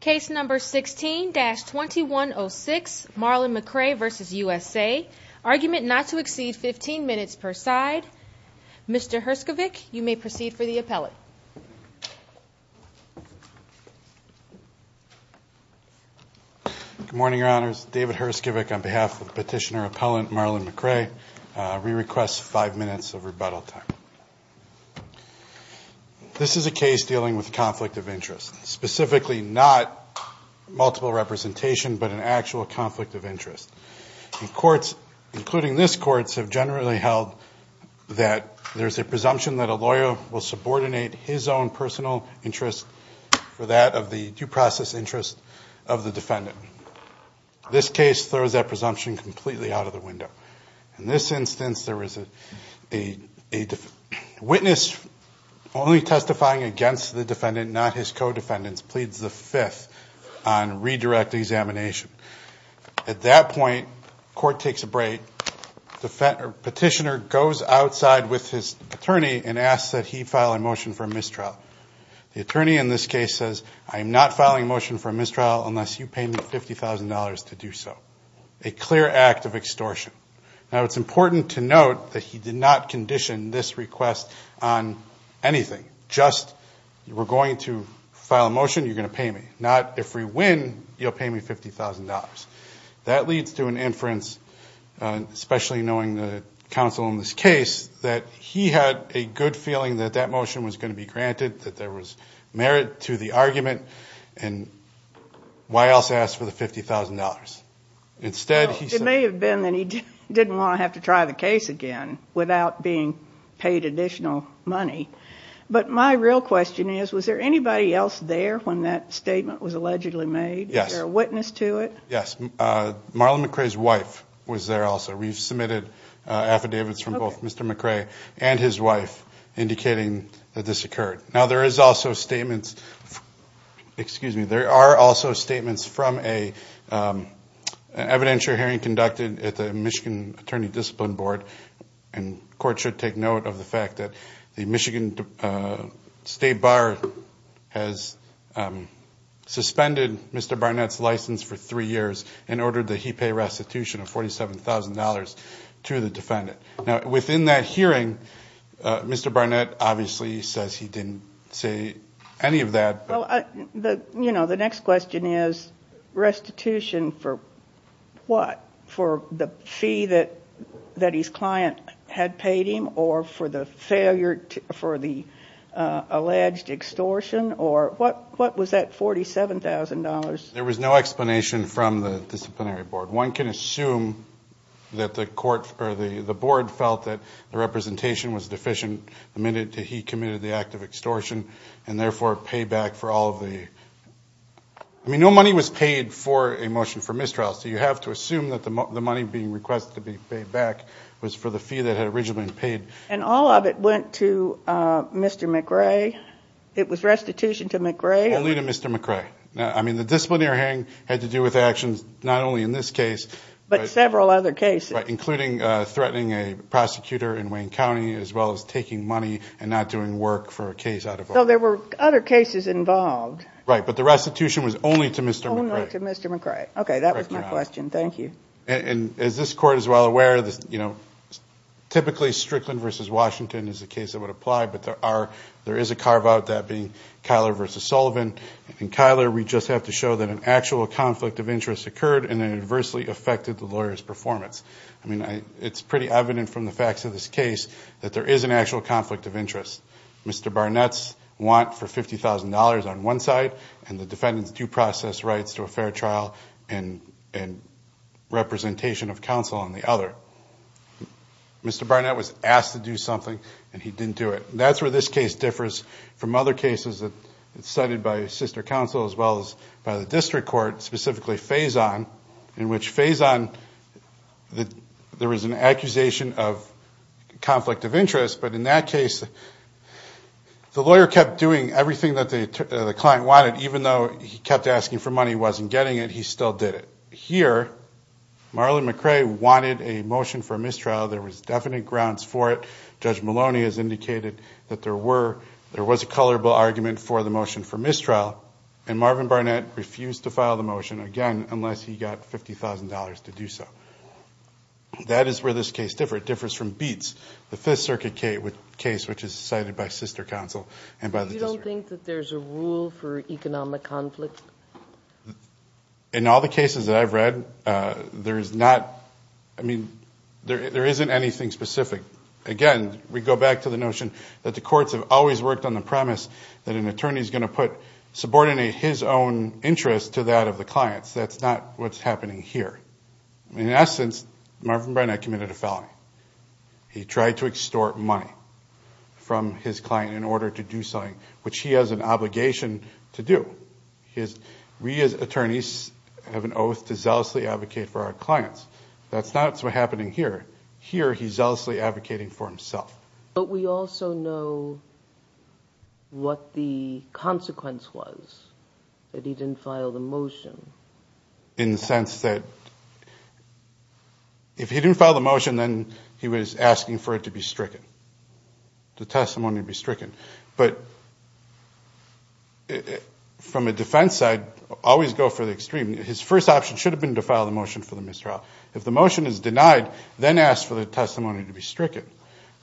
Case number 16-2106 Marlan McRae v. USA. Argument not to exceed 15 minutes per side. Mr. Herskovich, you may proceed for the appellate. Good morning, Your Honors. David Herskovich on behalf of Petitioner Appellant Marlan McRae. We request five minutes of rebuttal time. This is a case dealing with conflict of interest. Specifically, not multiple representation, but an actual conflict of interest. Courts, including this Court, have generally held that there is a presumption that a lawyer will subordinate his own personal interest for that of the due process interest of the defendant. This case throws that presumption completely out of the window. In this instance, a witness only testifying against the defendant, not his co-defendants, pleads the Fifth on redirect examination. At that point, court takes a break. Petitioner goes outside with his attorney and asks that he file a motion for mistrial. The attorney in this case says, I am not filing a motion for mistrial unless you pay me $50,000 to do so. A clear act of extortion. Now, it's important to note that he did not condition this request on anything. Just, we're going to file a motion, you're going to pay me. Not, if we win, you'll pay me $50,000. That leads to an inference, especially knowing the counsel in this case, that he had a good feeling that that motion was going to be granted, that there was merit to the argument, and why else ask for the $50,000? It may have been that he didn't want to have to try the case again without being paid additional money. But my real question is, was there anybody else there when that statement was allegedly made? Yes. Was there a witness to it? Yes. Marlon McRae's wife was there also. We've submitted affidavits from both Mr. McRae and his wife indicating that this occurred. Now, there is also statements, excuse me, there are also statements from an evidentiary hearing conducted at the Michigan Attorney Discipline Board. And the court should take note of the fact that the Michigan State Bar has suspended Mr. Barnett's license for three years and ordered that he pay restitution of $47,000 to the defendant. Now, within that hearing, Mr. Barnett obviously says he didn't say any of that. The next question is, restitution for what? For the fee that his client had paid him, or for the alleged extortion, or what was that $47,000? There was no explanation from the disciplinary board. One can assume that the board felt that the representation was deficient the minute he committed the act of extortion and therefore paid back for all of the, I mean, no money was paid for a motion for mistrial. So you have to assume that the money being requested to be paid back was for the fee that had originally been paid. And all of it went to Mr. McRae? It was restitution to McRae? Only to Mr. McRae. I mean, the disciplinary hearing had to do with actions not only in this case. But several other cases. Including threatening a prosecutor in Wayne County, as well as taking money and not doing work for a case out of office. So there were other cases involved? Right, but the restitution was only to Mr. McRae. Only to Mr. McRae. Okay, that was my question. Thank you. And is this court as well aware that, you know, typically Strickland v. Washington is the case that would apply, but there is a carve-out, that being Kyler v. Sullivan. In Kyler, we just have to show that an actual conflict of interest occurred and adversely affected the lawyer's performance. I mean, it's pretty evident from the facts of this case that there is an actual conflict of interest. Mr. Barnett's want for $50,000 on one side, and the defendant's due process rights to a fair trial and representation of counsel on the other. Mr. Barnett was asked to do something, and he didn't do it. That's where this case differs from other cases that are cited by sister counsel, as well as by the district court, specifically Faison. In which Faison, there was an accusation of conflict of interest, but in that case the lawyer kept doing everything that the client wanted, even though he kept asking for money, wasn't getting it, he still did it. Here, Marlon McRae wanted a motion for mistrial. There was definite grounds for it. Judge Maloney has indicated that there was a colorable argument for the motion for mistrial. And Marvin Barnett refused to file the motion, again, unless he got $50,000 to do so. That is where this case differs. It differs from Beetz, the Fifth Circuit case, which is cited by sister counsel and by the district. You don't think that there's a rule for economic conflict? In all the cases that I've read, there is not. I mean, there isn't anything specific. Again, we go back to the notion that the courts have always worked on the premise that an attorney is going to subordinate his own interest to that of the client's. That's not what's happening here. In essence, Marvin Barnett committed a felony. He tried to extort money from his client in order to do something, which he has an obligation to do. We as attorneys have an oath to zealously advocate for our clients. That's not what's happening here. Here, he's zealously advocating for himself. But we also know what the consequence was, that he didn't file the motion. In the sense that if he didn't file the motion, then he was asking for it to be stricken, the testimony to be stricken. But from a defense side, always go for the extreme. His first option should have been to file the motion for the mistrial. If the motion is denied, then ask for the testimony to be stricken.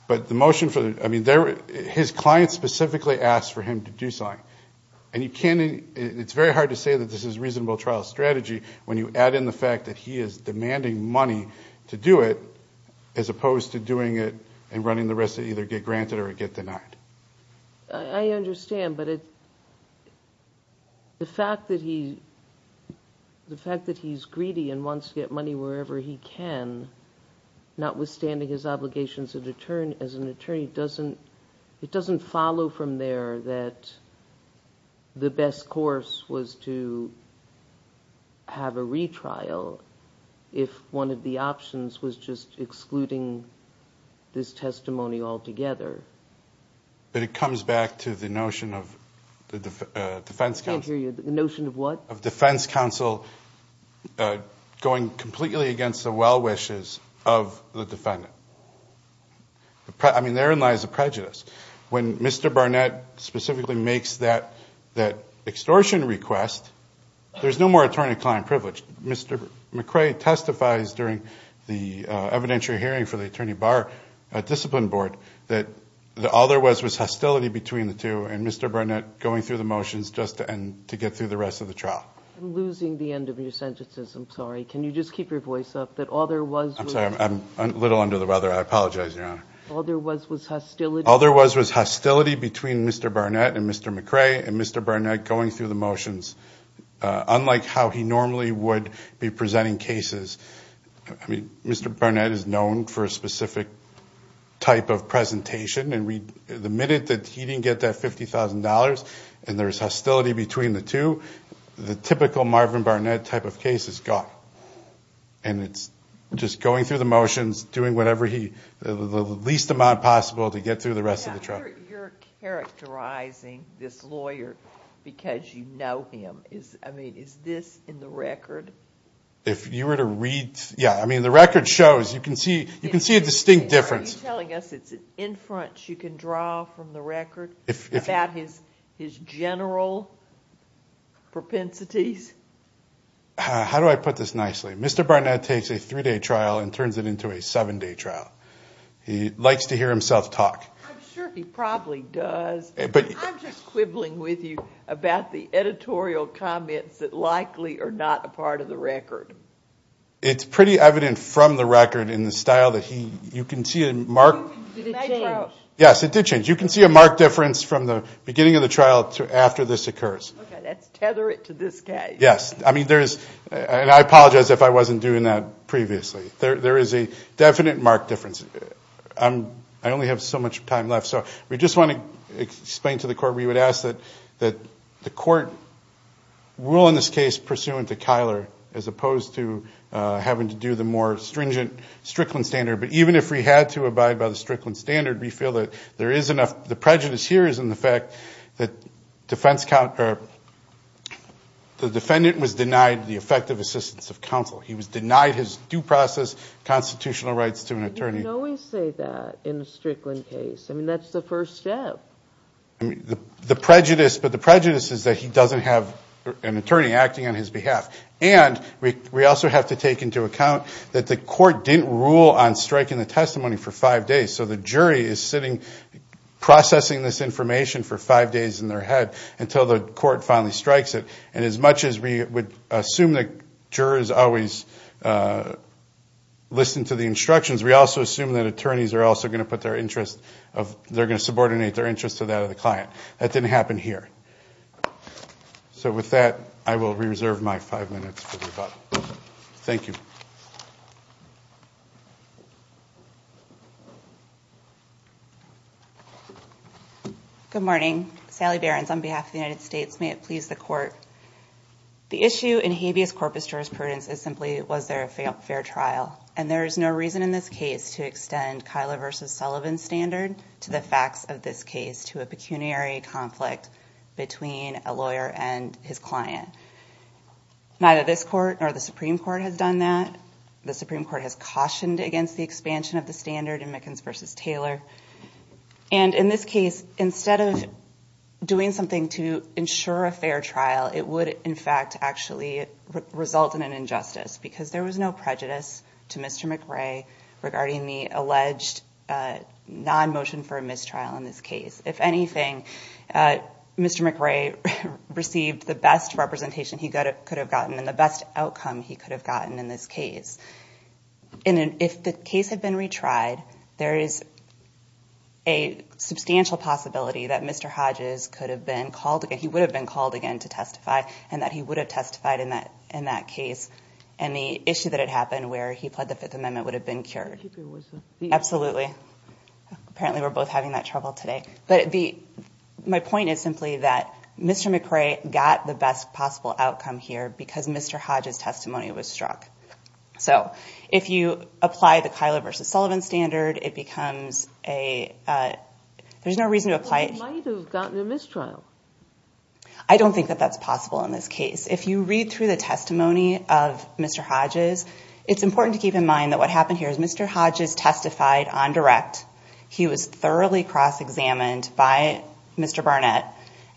But the motion for the ‑‑ I mean, his client specifically asked for him to do something. And you can't ‑‑ it's very hard to say that this is a reasonable trial strategy when you add in the fact that he is demanding money to do it, as opposed to doing it and running the risk to either get granted or get denied. I understand, but the fact that he's greedy and wants to get money wherever he can, notwithstanding his obligations as an attorney, it doesn't follow from there that the best course was to have a retrial if one of the options was just excluding this testimony altogether. But it comes back to the notion of defense counsel. I can't hear you. The notion of what? Of defense counsel going completely against the well‑wishes of the defendant. I mean, therein lies the prejudice. When Mr. Barnett specifically makes that extortion request, there's no more attorney‑client privilege. Mr. McRae testifies during the evidentiary hearing for the Attorney Bar Discipline Board that all there was was hostility between the two and Mr. Barnett going through the motions just to get through the rest of the trial. I'm losing the end of your sentences. I'm sorry. Can you just keep your voice up? That all there was was ‑‑ I'm sorry. I'm a little under the weather. I apologize, Your Honor. All there was was hostility. All there was was hostility between Mr. Barnett and Mr. McRae and Mr. Barnett going through the motions, unlike how he normally would be presenting cases. I mean, Mr. Barnett is known for a specific type of presentation. And the minute that he didn't get that $50,000 and there's hostility between the two, the typical Marvin Barnett type of case is gone. And it's just going through the motions, doing whatever he ‑‑ the least amount possible to get through the rest of the trial. You're characterizing this lawyer because you know him. I mean, is this in the record? If you were to read ‑‑ yeah, I mean, the record shows. You can see a distinct difference. Are you telling us it's an inference you can draw from the record about his general propensities? How do I put this nicely? Mr. Barnett takes a three‑day trial and turns it into a seven‑day trial. He likes to hear himself talk. I'm sure he probably does. I'm just quibbling with you about the editorial comments that likely are not a part of the record. It's pretty evident from the record in the style that he ‑‑ you can see a marked ‑‑ Did it change? Yes, it did change. You can see a marked difference from the beginning of the trial to after this occurs. Okay, that's tether it to this case. Yes. I mean, there is ‑‑ and I apologize if I wasn't doing that previously. There is a definite marked difference. I only have so much time left. We just want to explain to the court, we would ask that the court rule in this case pursuant to Kyler as opposed to having to do the more stringent Strickland standard. But even if we had to abide by the Strickland standard, we feel that there is enough ‑‑ the prejudice here is in the fact that the defendant was denied the effective assistance of counsel. We always say that in a Strickland case. I mean, that's the first step. The prejudice, but the prejudice is that he doesn't have an attorney acting on his behalf. And we also have to take into account that the court didn't rule on striking the testimony for five days. So the jury is sitting processing this information for five days in their head until the court finally strikes it. And as much as we would assume that jurors always listen to the instructions, we also assume that attorneys are also going to put their interest of ‑‑ they're going to subordinate their interest to that of the client. That didn't happen here. So with that, I will reserve my five minutes for rebuttal. Thank you. Good morning. Sally Behrens on behalf of the United States. May it please the court. The issue in habeas corpus jurisprudence is simply was there a fair trial. And there is no reason in this case to extend Kyla v. Sullivan's standard to the facts of this case, to a pecuniary conflict between a lawyer and his client. Neither this court nor the Supreme Court has done that. The Supreme Court has cautioned against the expansion of the standard in Mickens v. Taylor. And in this case, instead of doing something to ensure a fair trial, it would, in fact, actually result in an injustice because there was no prejudice to Mr. McRae regarding the alleged non‑motion for a mistrial in this case. If anything, Mr. McRae received the best representation he could have gotten and the best outcome he could have gotten in this case. And if the case had been retried, there is a substantial possibility that Mr. Hodges could have been called again. And that he would have testified in that case. And the issue that had happened where he pled the Fifth Amendment would have been cured. Absolutely. Apparently we're both having that trouble today. But my point is simply that Mr. McRae got the best possible outcome here because Mr. Hodges' testimony was struck. So if you apply the Kyla v. Sullivan standard, it becomes a ‑‑ There's no reason to apply it. He might have gotten a mistrial. I don't think that that's possible in this case. If you read through the testimony of Mr. Hodges, it's important to keep in mind that what happened here is Mr. Hodges testified on direct. He was thoroughly cross‑examined by Mr. Barnett.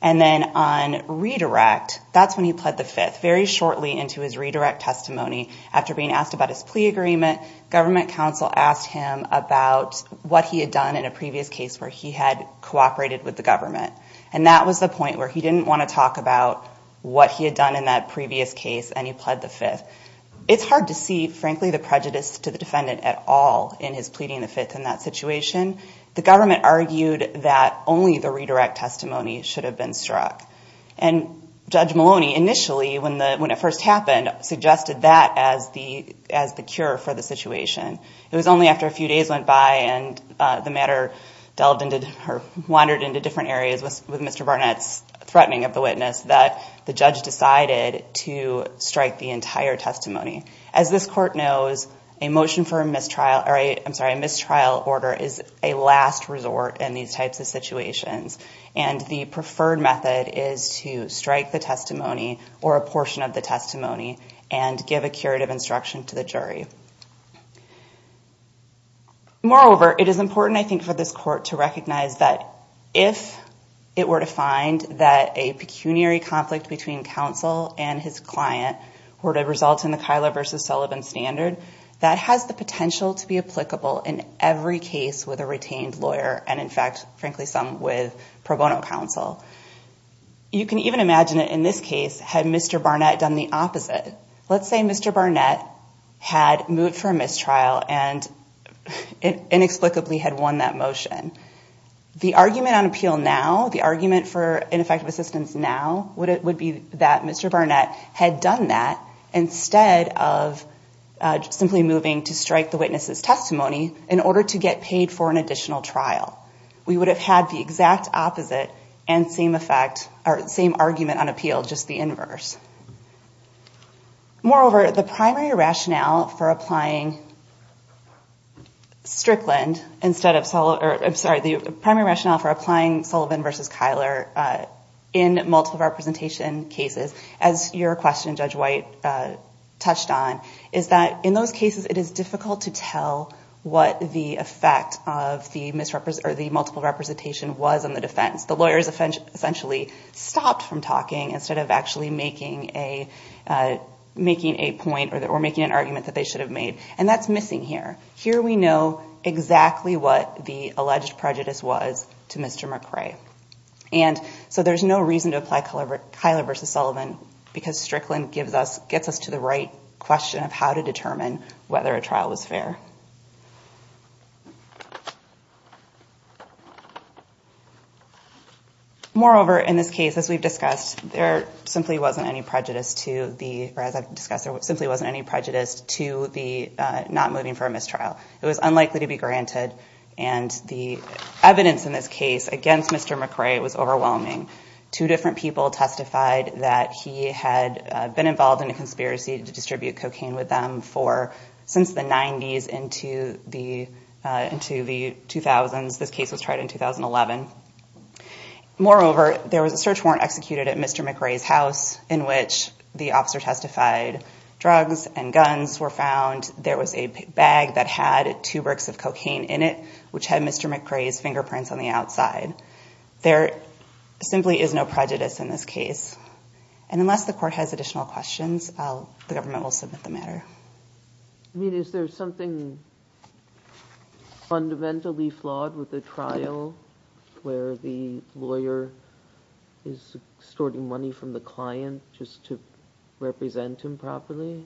And then on redirect, that's when he pled the Fifth. Very shortly into his redirect testimony, after being asked about his plea agreement, government counsel asked him about what he had done in a previous case where he had cooperated with the government. And that was the point where he didn't want to talk about what he had done in that previous case and he pled the Fifth. It's hard to see, frankly, the prejudice to the defendant at all in his pleading the Fifth in that situation. The government argued that only the redirect testimony should have been struck. And Judge Maloney initially, when it first happened, suggested that as the cure for the situation. It was only after a few days went by and the matter delved into or wandered into different areas with Mr. Barnett's threatening of the witness that the judge decided to strike the entire testimony. As this court knows, a motion for a mistrial order is a last resort in these types of situations. And the preferred method is to strike the testimony or a portion of the testimony Moreover, it is important, I think, for this court to recognize that if it were to find that a pecuniary conflict between counsel and his client were to result in the Kyla v. Sullivan standard, that has the potential to be applicable in every case with a retained lawyer and, in fact, frankly, some with pro bono counsel. You can even imagine that in this case, had Mr. Barnett done the opposite. Let's say Mr. Barnett had moved for a mistrial and inexplicably had won that motion. The argument on appeal now, the argument for ineffective assistance now, would be that Mr. Barnett had done that instead of simply moving to strike the witness's testimony in order to get paid for an additional trial. We would have had the exact opposite and same argument on appeal, just the inverse. Moreover, the primary rationale for applying Sullivan v. Kyler in multiple representation cases, as your question, Judge White, touched on, is that in those cases, it is difficult to tell what the effect of the multiple representation was on the defense. The lawyers essentially stopped from talking instead of actually making a point or making an argument that they should have made, and that's missing here. Here we know exactly what the alleged prejudice was to Mr. McRae. So there's no reason to apply Kyler v. Sullivan because Strickland gets us to the right question of how to determine whether a trial was fair. Moreover, in this case, as we've discussed, there simply wasn't any prejudice to the not moving for a mistrial. It was unlikely to be granted, and the evidence in this case against Mr. McRae was overwhelming. Two different people testified that he had been involved in a conspiracy to distribute cocaine with them since the 90s into the 2000s. This case was tried in 2011. Moreover, there was a search warrant executed at Mr. McRae's house in which the officer testified. Drugs and guns were found. There was a bag that had two bricks of cocaine in it, which had Mr. McRae's fingerprints on the outside. There simply is no prejudice in this case. Unless the court has additional questions, the government will submit the matter. Is there something fundamentally flawed with the trial where the lawyer is extorting money from the client just to represent him properly?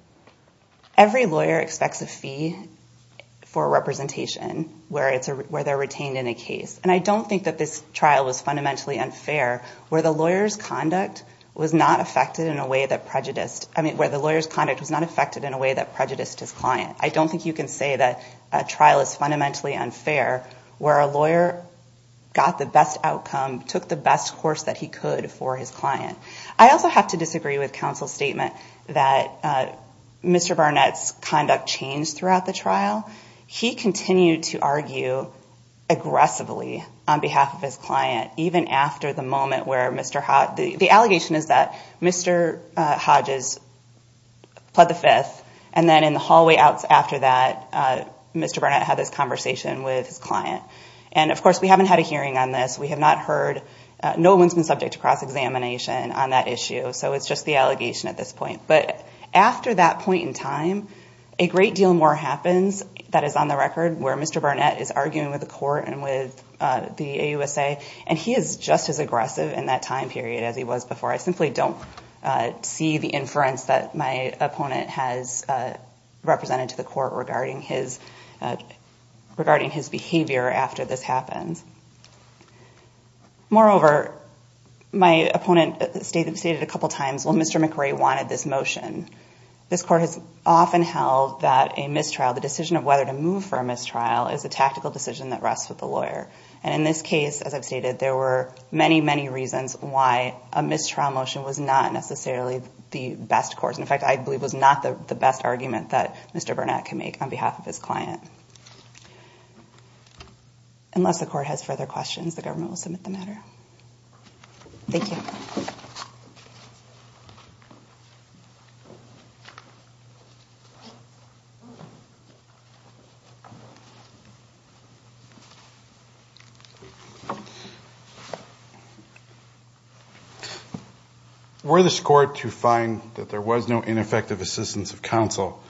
Every lawyer expects a fee for representation where they're retained in a case. And I don't think that this trial was fundamentally unfair where the lawyer's conduct was not affected in a way that prejudiced his client. I don't think you can say that a trial is fundamentally unfair where a lawyer got the best outcome, took the best course that he could for his client. I also have to disagree with counsel's statement that Mr. Barnett's conduct changed throughout the trial. He continued to argue aggressively on behalf of his client, even after the moment where Mr. Hodges The allegation is that Mr. Hodges pled the fifth, and then in the hallway after that, Mr. Barnett had this conversation with his client. And, of course, we haven't had a hearing on this. We have not heard. No one's been subject to cross-examination on that issue. So it's just the allegation at this point. But after that point in time, a great deal more happens that is on the record, where Mr. Barnett is arguing with the court and with the AUSA, and he is just as aggressive in that time period as he was before. I simply don't see the inference that my opponent has represented to the court regarding his behavior after this happens. Moreover, my opponent stated a couple times, well, Mr. McRae wanted this motion. This court has often held that a mistrial, the decision of whether to move for a mistrial, is a tactical decision that rests with the lawyer. And in this case, as I've stated, there were many, many reasons why a mistrial motion was not necessarily the best course. In fact, I believe it was not the best argument that Mr. Barnett can make on behalf of his client. Unless the court has further questions, the government will submit the matter. Thank you. Were this court to find that there was no ineffective assistance of counsel,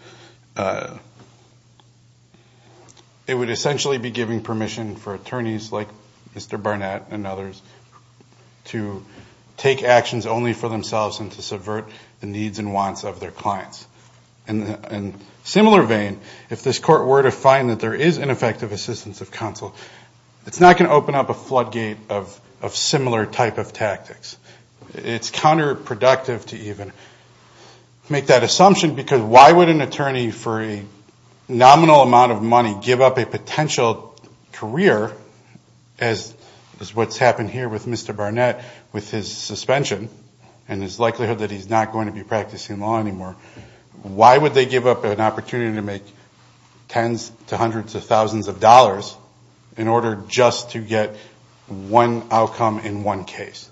it would essentially be giving permission for attorneys like Mr. Barnett and others to take actions only for themselves and to subvert the needs and wants of their clients. In a similar vein, if this court were to find that there is ineffective assistance of counsel, it's not going to open up a floodgate of similar type of tactics. It's counterproductive to even make that assumption, because why would an attorney for a nominal amount of money give up a potential career, as what's happened here with Mr. Barnett with his suspension and his likelihood that he's not going to be practicing law anymore, why would they give up an opportunity to make tens to hundreds of thousands of dollars in order just to get one outcome in one case?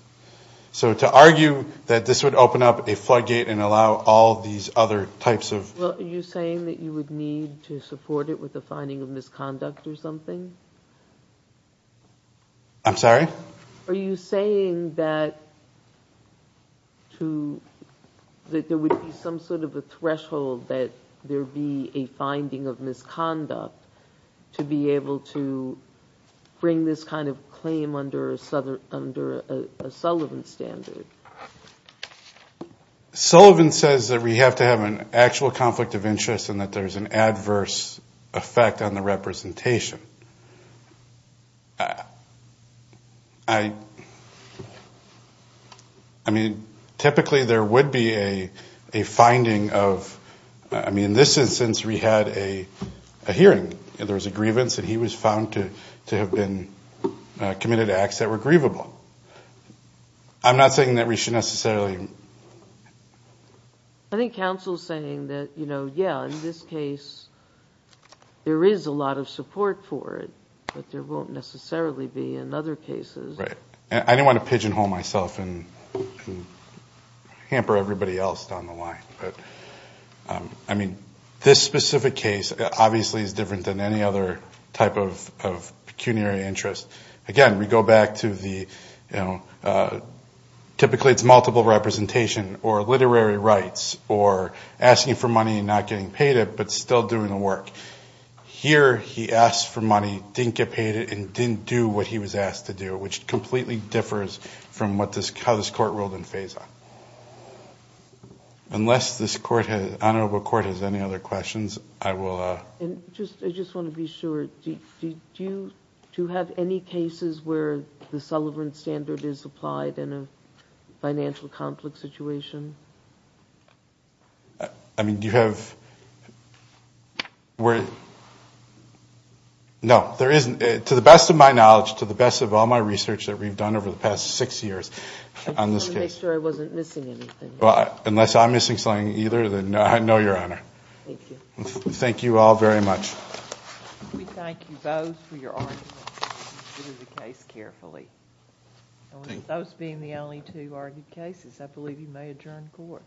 So to argue that this would open up a floodgate and allow all these other types of... Well, are you saying that you would need to support it with a finding of misconduct or something? I'm sorry? Are you saying that there would be some sort of a threshold that there would be a finding of misconduct to be able to bring this kind of claim under a Sullivan standard? Sullivan says that we have to have an actual conflict of interest and that there's an adverse effect on the representation. I mean, typically there would be a finding of... I mean, in this instance, we had a hearing. There was a grievance, and he was found to have committed acts that were grievable. I'm not saying that we should necessarily... I think counsel is saying that, you know, yeah, in this case there is a lot of support for it, but there won't necessarily be in other cases. Right. I didn't want to pigeonhole myself and hamper everybody else down the line. I mean, this specific case obviously is different than any other type of pecuniary interest. Again, we go back to the, you know, typically it's multiple representation or literary rights or asking for money and not getting paid it but still doing the work. Here he asked for money, didn't get paid it, and didn't do what he was asked to do, which completely differs from how this court ruled in FASA. Unless this honorable court has any other questions, I will... I just want to be sure. Do you have any cases where the Sullivan Standard is applied in a financial conflict situation? I mean, do you have... No, there isn't. To the best of my knowledge, to the best of all my research that we've done over the past six years on this case... I just wanted to make sure I wasn't missing anything. Unless I'm missing something either, then no, Your Honor. Thank you. Thank you all very much. We thank you both for your arguments. Consider the case carefully. Those being the only two argued cases, I believe you may adjourn court.